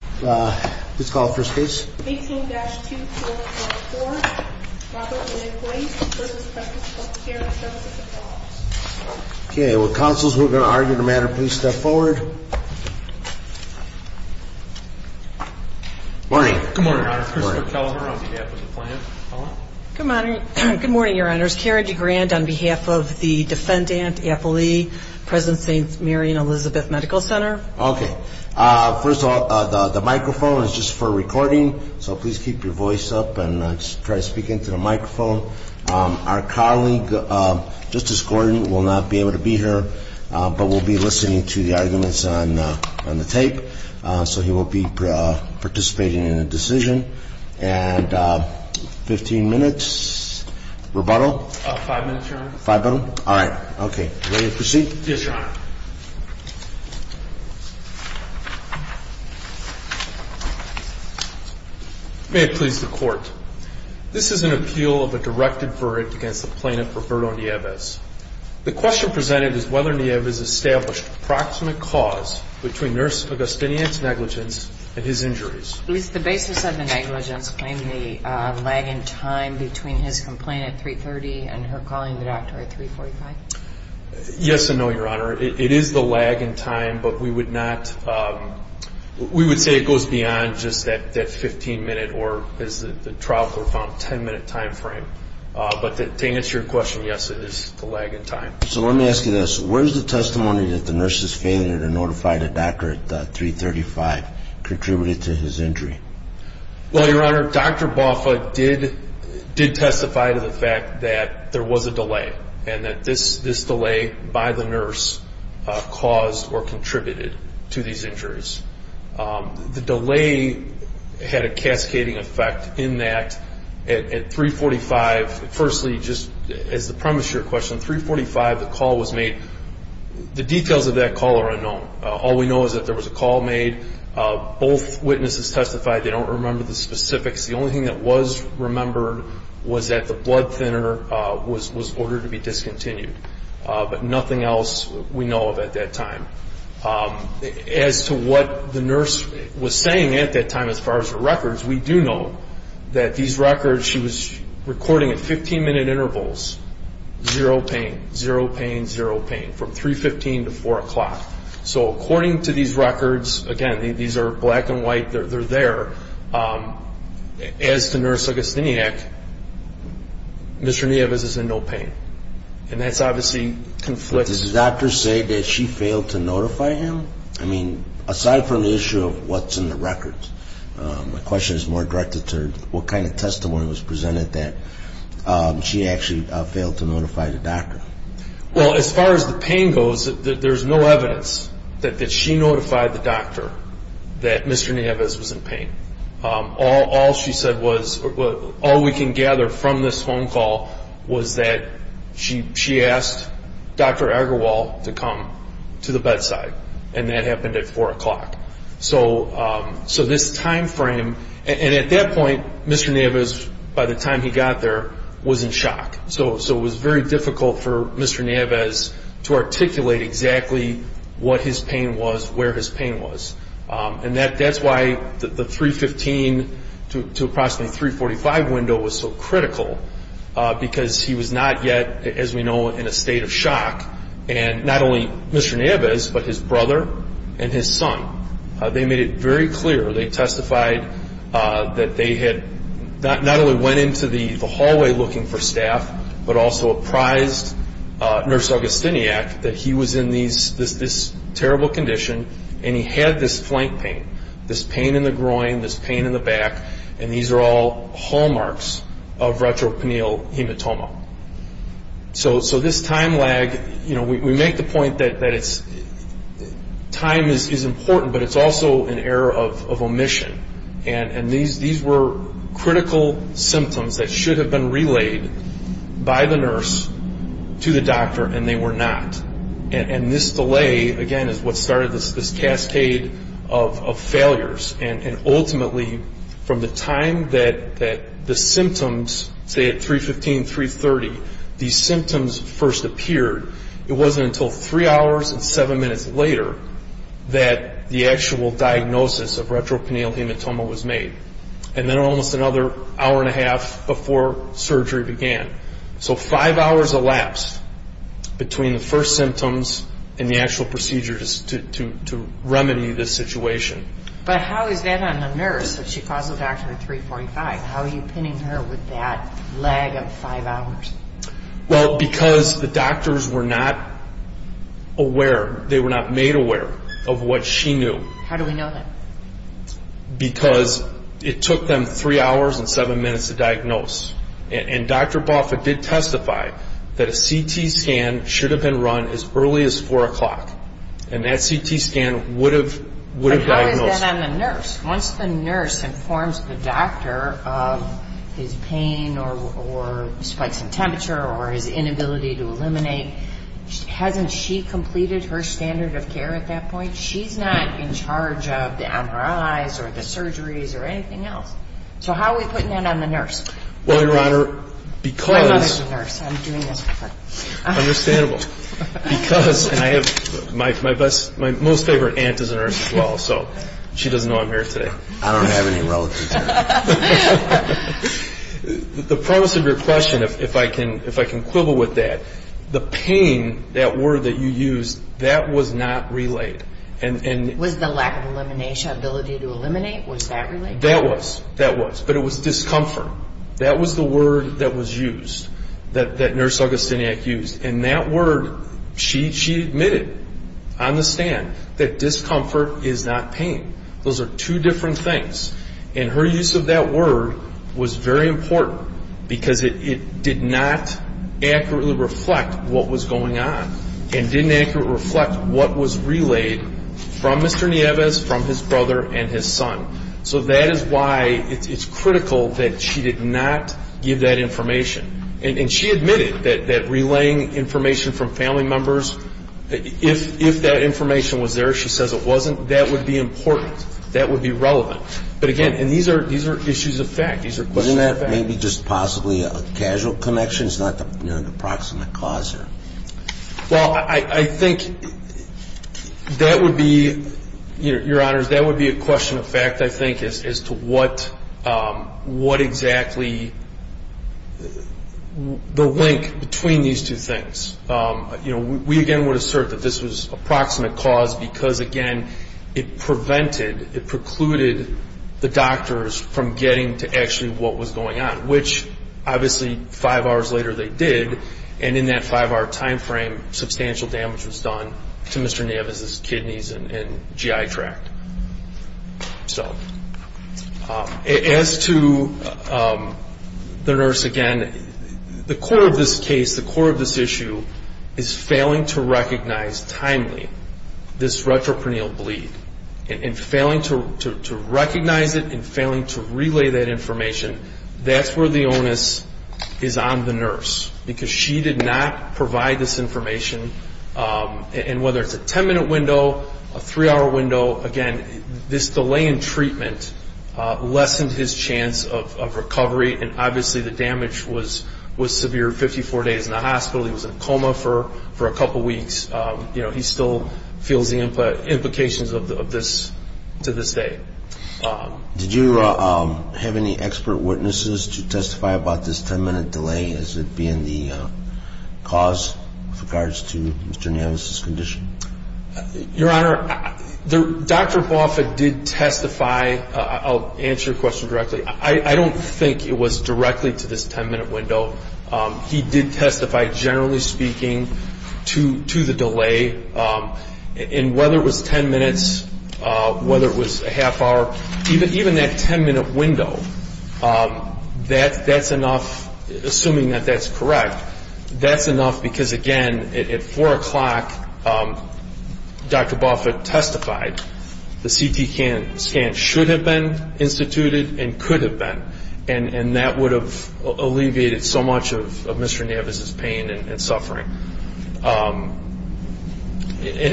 Please call the first case. 18-2444, Robert McQuaid v. Presence Healthcare Services, Oklahoma. Okay, will counsels who are going to argue the matter please step forward. Good morning, Your Honor. Christopher Kelleher on behalf of the Planned Parenthood. Good morning, Your Honors. Karen DeGrand on behalf of the defendant, Apple Lee, present St. Mary and Elizabeth Medical Center. Okay. First of all, the microphone is just for recording, so please keep your voice up and try to speak into the microphone. Our colleague, Justice Gordon, will not be able to be here, but will be listening to the arguments on the tape. So he will be participating in the decision. And 15 minutes, rebuttal? Five minutes, Your Honor. Five minutes? All right. Okay. Ready to proceed? Yes, Your Honor. May it please the Court. This is an appeal of a directed verdict against the plaintiff, Roberto Nieves. The question presented is whether Nieves established approximate cause between Nurse Agustinian's negligence and his injuries. Is the basis of the negligence claim the lag in time between his complaint at 3.30 and her calling the doctor at 3.45? Yes and no, Your Honor. It is the lag in time, but we would say it goes beyond just that 15-minute or, as the trial court found, 10-minute time frame. But to answer your question, yes, it is the lag in time. So let me ask you this. Where is the testimony that the nurse's failure to notify the doctor at 3.35 contributed to his injury? Well, Your Honor, Dr. Boffa did testify to the fact that there was a delay and that this delay by the nurse caused or contributed to these injuries. The delay had a cascading effect in that at 3.45, firstly, just as the premise of your question, at 3.45 the call was made. The details of that call are unknown. All we know is that there was a call made. Both witnesses testified they don't remember the specifics. The only thing that was remembered was that the blood thinner was ordered to be discontinued. But nothing else we know of at that time. As to what the nurse was saying at that time as far as her records, we do know that these records she was recording at 15-minute intervals, zero pain, zero pain, zero pain, from 3.15 to 4 o'clock. So according to these records, again, these are black and white, they're there. As to Nurse Agostiniak, Mr. Nieves is in no pain. And that's obviously conflicting. Did the doctor say that she failed to notify him? I mean, aside from the issue of what's in the records, my question is more directed to what kind of testimony was presented that she actually failed to notify the doctor? Well, as far as the pain goes, there's no evidence that she notified the doctor that Mr. Nieves was in pain. All she said was, all we can gather from this phone call was that she asked Dr. Agarwal to come to the bedside. And that happened at 4 o'clock. So this time frame, and at that point, Mr. Nieves, by the time he got there, was in shock. So it was very difficult for Mr. Nieves to articulate exactly what his pain was, where his pain was. And that's why the 3.15 to approximately 3.45 window was so critical, because he was not yet, as we know, in a state of shock. And not only Mr. Nieves, but his brother and his son, they made it very clear, they testified that they had not only went into the hallway looking for staff, but also apprised Nurse Agostiniak that he was in this terrible condition, and he had this So this time lag, we make the point that time is important, but it's also an error of omission. And these were critical symptoms that should have been relayed by the nurse to the doctor, and they were not. And this delay, again, is what started this cascade of failures. And ultimately, from the time that the symptoms, say at 3.15, 3.30, these symptoms first appeared, it wasn't until three hours and seven minutes later that the actual diagnosis of retrocanial hematoma was made. And then almost another hour and a half before surgery began. So five hours elapsed between the actual procedure to remedy this situation. But how is that on the nurse? She calls the doctor at 3.45. How are you pinning her with that lag of five hours? Well, because the doctors were not aware. They were not made aware of what she knew. How do we know that? Because it took them three hours and seven minutes to diagnose. And Dr. Boffa did testify that a CT scan should have been run as early as 4 o'clock. And that CT scan would have diagnosed her. But how is that on the nurse? Once the nurse informs the doctor of his pain or spikes in temperature or his inability to eliminate, hasn't she completed her eyes or the surgeries or anything else? So how are we putting that on the nurse? Well, Your Honor, because... My mother's a nurse. I'm doing this for her. Understandable. Because, and I have my best, my most favorite aunt is a nurse as well, so she doesn't know I'm here today. I don't have any relatives here. The premise of your question, if I can quibble with that, the pain, that word that you used, that was not relayed. Was the lack of elimination, ability to eliminate, was that relayed? That was. That was. But it was discomfort. That was the word that was used, that Nurse Augustiniak used. And that word, she admitted on the stand that discomfort is not pain. Those are two different things. And her use of that word was very important because it did not accurately reflect what was going on. And didn't accurately reflect what was relayed from Mr. Nieves, from his brother and his son. So that is why it's critical that she did not give that information. And she admitted that relaying information from family members, if that information was there, she says it wasn't, that would be important. That would be relevant. But again, and these are issues of fact. These are questions of fact. Other than that, maybe just possibly a casual connection. It's not an approximate cause here. Well, I think that would be, Your Honors, that would be a question of fact, I think, as to what exactly the link between these two things. You know, we again would assert that this was approximate cause because, again, it prevented, it precluded the doctors from getting to actually what was going on. Which, obviously, five hours later they did. And in that five-hour time frame, substantial damage was done to Mr. Nieves' kidneys and GI tract. So, as to the nurse, again, the core of this case, the core of this issue, is failing to recognize timely this retropreneal bleed. And failing to recognize it and failing to relay that information, that's where the onus is on the nurse. Because she did not provide this information. And whether it's a ten-minute window, a three-hour window, again, this delay in treatment lessened his chance of recovery. And obviously the damage was severe. Fifty-four days in the hospital. He was in a coma for a couple weeks. You know, he still feels the implications of this to this day. Did you have any expert witnesses to testify about this ten-minute delay as it being the cause with regards to Mr. Nieves' condition? Your Honor, Dr. Boffitt did testify. I'll answer your question directly. I don't think it was directly to this ten-minute window. He did testify, generally speaking, to the delay. And whether it was ten minutes, whether it was a half hour, even that ten-minute window, that's enough, assuming that that's correct. That's enough because, again, at four o'clock, Dr. Boffitt testified. The CT scan should have been instituted and could have been. And that would have alleviated so much of Mr. Nieves' pain and suffering. And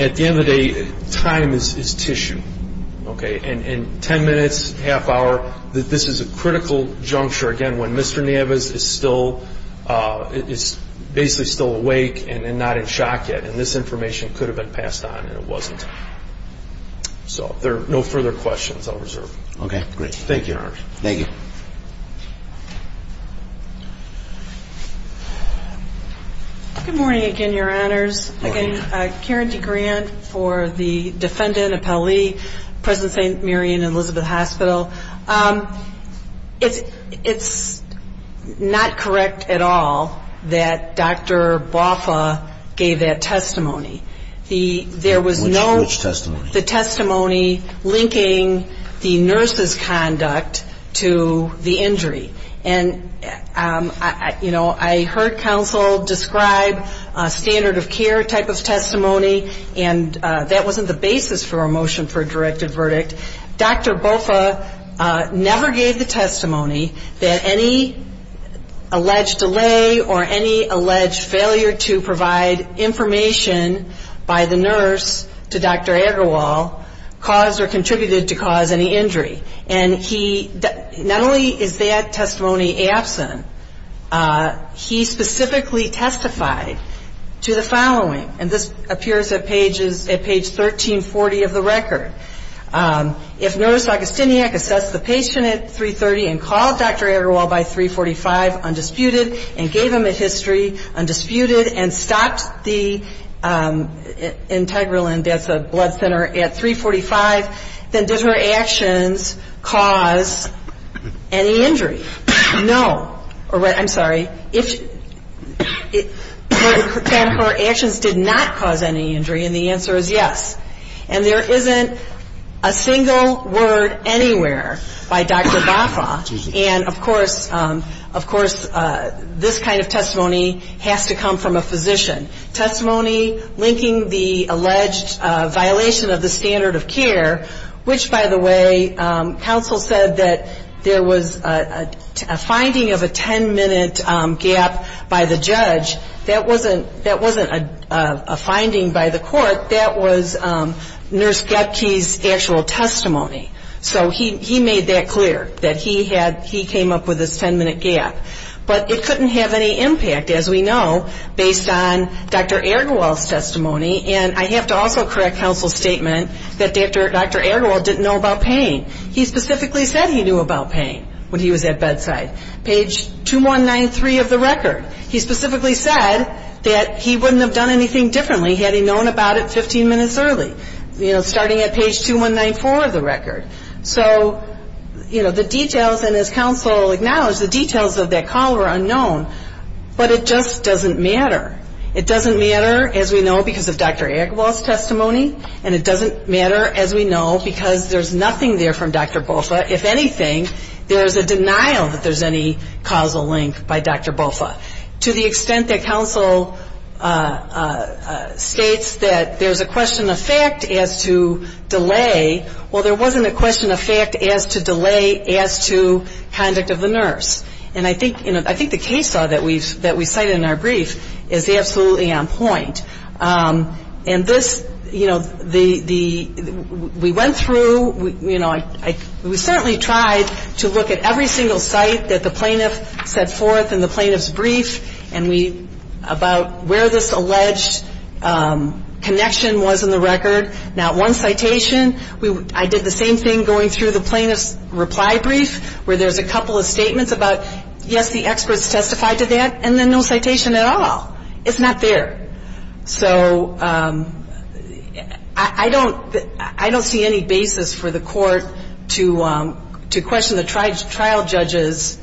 at the end of the day, time is tissue, okay? And ten minutes, half hour, this is a critical juncture, again, when Mr. Nieves is still, is basically still awake and not in shock yet. And this information could have been passed on and it wasn't. So there are no further questions I'll reserve. Okay, great. Thank you, Your Honor. Thank you. Good morning again, Your Honors. Good morning. Again, Karen DeGrant for the defendant, Appellee, President St. Mary and Elizabeth Hospital. It's not correct at all that Dr. Boffitt gave that testimony. Which testimony? The testimony linking the nurse's conduct to the injury. And, you know, I heard counsel describe a standard of care type of testimony, and that wasn't the basis for a motion for a directed verdict. Dr. Boffitt never gave the testimony that any alleged delay or any alleged failure to provide information by the nurse to Dr. Agarwal caused or contributed to cause any injury. And he, not only is that testimony absent, he specifically testified to the following. And this appears at pages, at page 1340 of the record. If nurse Agostiniak assessed the patient at 3.30 and called Dr. Agarwal by 3.45 undisputed and gave him a history undisputed and stopped the integral and death of blood thinner at 3.45, then did her actions cause any injury? No. I'm sorry. Her actions did not cause any injury, and the answer is yes. And there isn't a single word anywhere by Dr. Boffitt. And, of course, this kind of testimony has to come from a physician. Testimony linking the alleged violation of the standard of care, which, by the way, counsel said that there was a finding of a 10-minute gap by the judge. That wasn't a finding by the court. That was Nurse Gepke's actual testimony. So he made that clear, that he came up with this 10-minute gap. But it couldn't have any impact, as we know, based on Dr. Agarwal's testimony. And I have to also correct counsel's statement that Dr. Agarwal didn't know about pain. He specifically said he knew about pain when he was at bedside, page 2193 of the record. He specifically said that he wouldn't have done anything differently had he known about it 15 minutes early, you know, starting at page 2194 of the record. So, you know, the details, and as counsel acknowledged, the details of that call were unknown. But it just doesn't matter. It doesn't matter, as we know, because of Dr. Agarwal's testimony. And it doesn't matter, as we know, because there's nothing there from Dr. Boffitt. If anything, there's a denial that there's any causal link by Dr. Boffitt. So to the extent that counsel states that there's a question of fact as to delay, well, there wasn't a question of fact as to delay as to conduct of the nurse. And I think, you know, I think the case law that we cited in our brief is absolutely on point. And this, you know, we went through, you know, we certainly tried to look at every single site that the plaintiff set forth in the plaintiff's brief about where this alleged connection was in the record. Now, one citation, I did the same thing going through the plaintiff's reply brief where there's a couple of statements about, yes, the experts testified to that, and then no citation at all. It's not there. So I don't see any basis for the court to question the trial judge's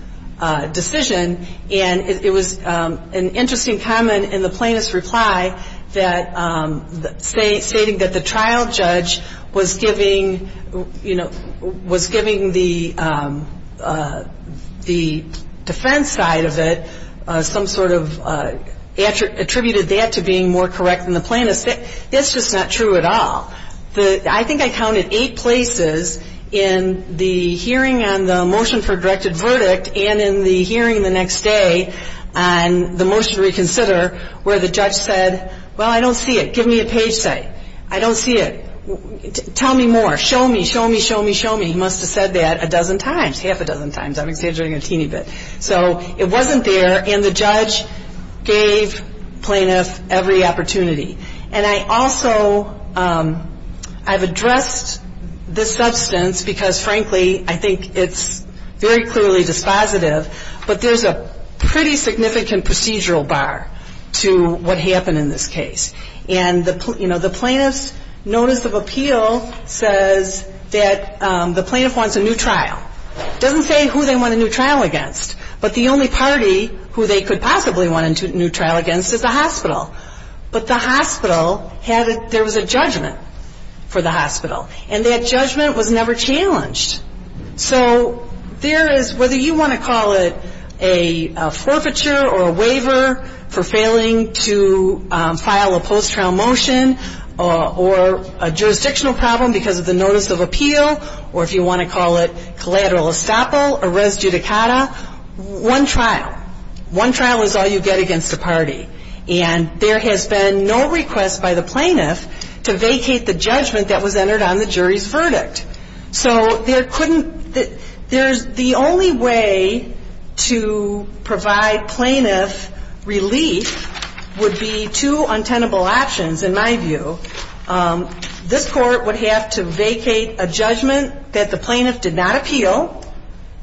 decision. And it was an interesting comment in the plaintiff's reply that stating that the trial judge was giving, you know, was giving the defense side of it some sort of attributed that to being more correct than the plaintiff's. That's just not true at all. I think I counted eight places in the hearing on the motion for directed verdict and in the hearing the next day on the motion to reconsider where the judge said, well, I don't see it. Give me a page site. I don't see it. Tell me more. Show me, show me, show me, show me. He must have said that a dozen times, half a dozen times. I'm exaggerating a teeny bit. So it wasn't there, and the judge gave plaintiff every opportunity. And I also, I've addressed this substance because, frankly, I think it's very clearly dispositive, but there's a pretty significant procedural bar to what happened in this case. And, you know, the plaintiff's notice of appeal says that the plaintiff wants a new trial. It doesn't say who they want a new trial against, but the only party who they could possibly want a new trial against is the hospital. But the hospital had a, there was a judgment for the hospital, and that judgment was never challenged. So there is, whether you want to call it a forfeiture or a waiver for failing to file a post-trial motion or a jurisdictional problem because of the notice of appeal, or if you want to call it collateral estoppel or res judicata, one trial. One trial is all you get against a party. And there has been no request by the plaintiff to vacate the judgment that was entered on the jury's verdict. So there couldn't, there's, the only way to provide plaintiff relief would be two untenable options, in my view. This court would have to vacate a judgment that the plaintiff did not appeal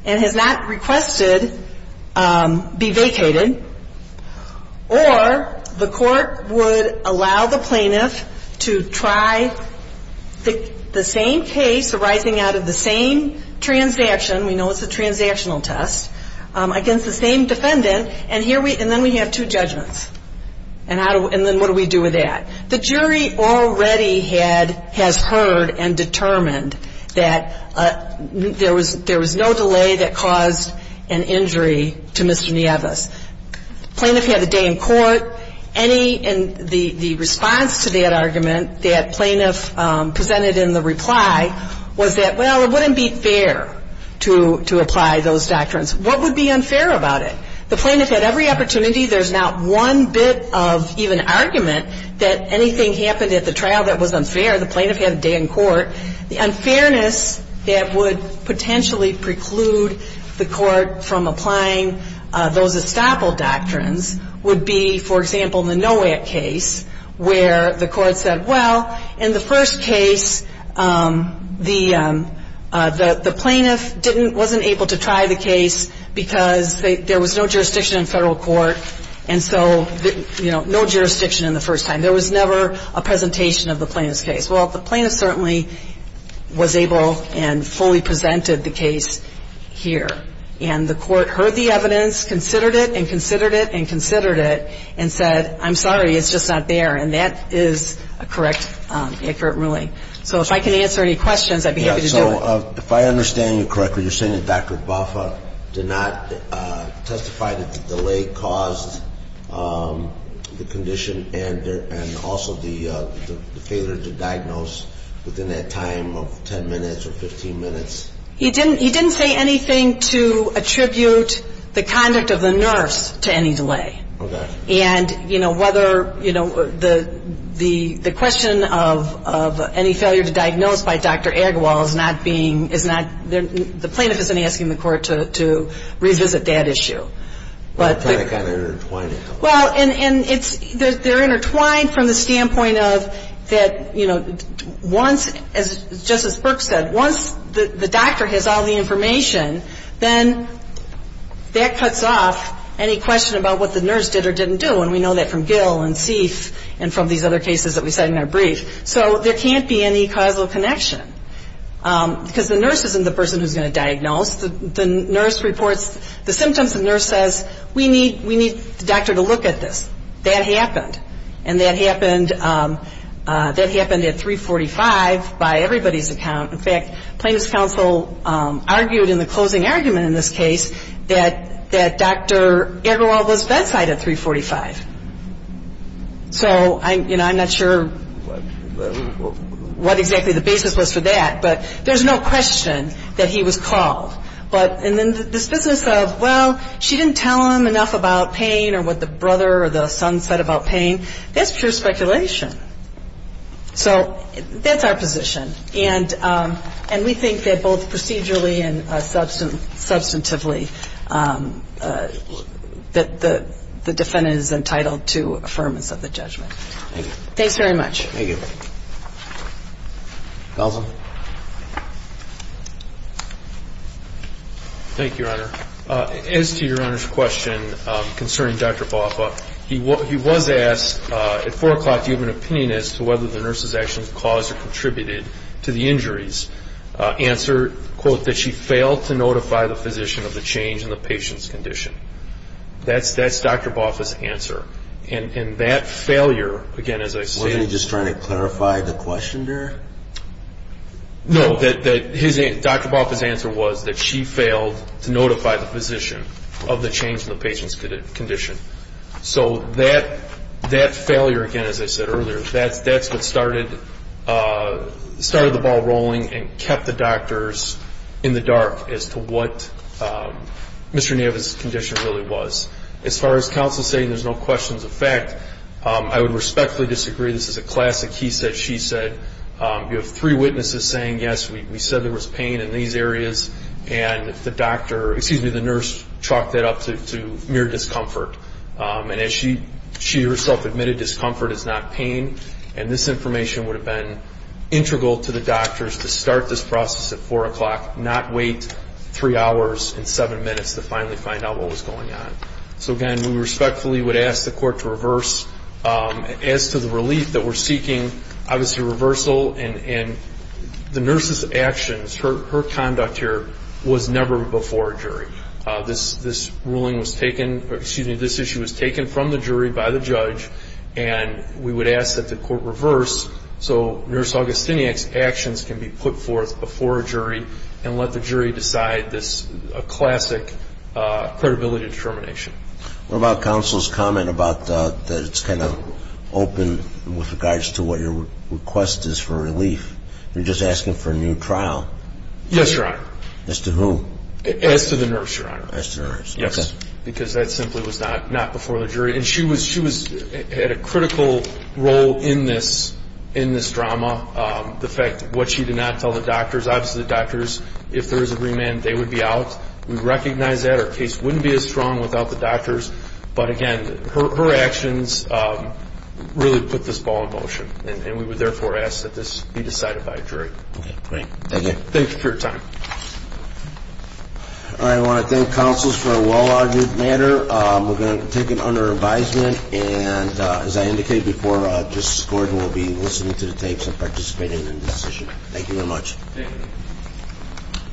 and has not requested be vacated. Or the court would allow the plaintiff to try the same case arising out of the same transaction, we know it's a transactional test, against the same defendant, and then we have two judgments. And then what do we do with that? The jury already had, has heard and determined that there was no delay that caused an injury to Mr. Nieves. Plaintiff had a day in court. Any, and the response to that argument that plaintiff presented in the reply was that, well, it wouldn't be fair to apply those doctrines. What would be unfair about it? The plaintiff had every opportunity. There's not one bit of even argument that anything happened at the trial that was unfair. The plaintiff had a day in court. The unfairness that would potentially preclude the court from applying those estoppel doctrines would be, for example, the Nowak case where the court said, well, in the first case, the plaintiff didn't, wasn't able to try the case because there was no jurisdiction in federal court. And so, you know, no jurisdiction in the first time. There was never a presentation of the plaintiff's case. Well, the plaintiff certainly was able and fully presented the case here. And the court heard the evidence, considered it and considered it and considered it and said, I'm sorry, it's just not there. And that is a correct, accurate ruling. So if I can answer any questions, I'd be happy to do it. So if I understand you correctly, you're saying that Dr. Bafa did not testify that the delay caused the condition and also the failure to diagnose within that time of 10 minutes or 15 minutes? He didn't say anything to attribute the conduct of the nurse to any delay. Okay. And, you know, whether, you know, the question of any failure to diagnose by Dr. Agarwal is not being, is not, the plaintiff isn't asking the court to revisit that issue. You're trying to kind of intertwine it. Well, and it's, they're intertwined from the standpoint of that, you know, once, as Justice Brooks said, once the doctor has all the information, then that cuts off any question about what the nurse did or didn't do. And we know that from Gill and Seif and from these other cases that we cite in our brief. So there can't be any causal connection. Because the nurse isn't the person who's going to diagnose. The nurse reports the symptoms. The nurse says, we need the doctor to look at this. That happened. And that happened at 345 by everybody's account. In fact, plaintiff's counsel argued in the closing argument in this case that Dr. Agarwal was bedside at 345. So, you know, I'm not sure what exactly the basis was for that. But there's no question that he was called. But in this business of, well, she didn't tell him enough about pain or what the brother or the son said about pain, that's pure speculation. So that's our position. And we think that both procedurally and substantively that the defendant is entitled to affirmance of the judgment. Thank you. Thanks very much. Thank you. Nelson. Thank you, Your Honor. As to Your Honor's question concerning Dr. Boffa, he was asked at 4 o'clock to give an opinion as to whether the nurse's actions caused or contributed to the injuries. Answered, quote, that she failed to notify the physician of the change in the patient's condition. That's Dr. Boffa's answer. And that failure, again, as I stated… Wasn't he just trying to clarify the question there? No, Dr. Boffa's answer was that she failed to notify the physician of the change in the patient's condition. So that failure, again, as I said earlier, that's what started the ball rolling and kept the doctors in the dark as to what Mr. Nava's condition really was. As far as counsel's saying there's no questions of fact, I would respectfully disagree. This is a classic he said, she said. You have three witnesses saying, yes, we said there was pain in these areas, and the nurse chalked that up to mere discomfort. And as she herself admitted, discomfort is not pain. And this information would have been integral to the doctors to start this process at 4 o'clock, not wait three hours and seven minutes to finally find out what was going on. So, again, we respectfully would ask the court to reverse. As to the relief that we're seeking, obviously reversal and the nurse's actions, her conduct here was never before a jury. This ruling was taken, or excuse me, this issue was taken from the jury by the judge, and we would ask that the court reverse so Nurse Augustiniak's actions can be put forth before a jury and let the jury decide this classic credibility determination. What about counsel's comment about that it's kind of open with regards to what your request is for relief? You're just asking for a new trial. Yes, Your Honor. As to who? As to the nurse, Your Honor. Yes. Because that simply was not before the jury. And she had a critical role in this drama, the fact that what she did not tell the doctors. Obviously, the doctors, if there was a remand, they would be out. We recognize that. Our case wouldn't be as strong without the doctors. But, again, her actions really put this ball in motion, and we would therefore ask that this be decided by a jury. Okay, great. Thank you. Thank you for your time. I want to thank counsels for a well-argued matter. We're going to take it under advisement. And, as I indicated before, Justice Gordon will be listening to the tapes and participating in this session. Thank you very much. Thank you.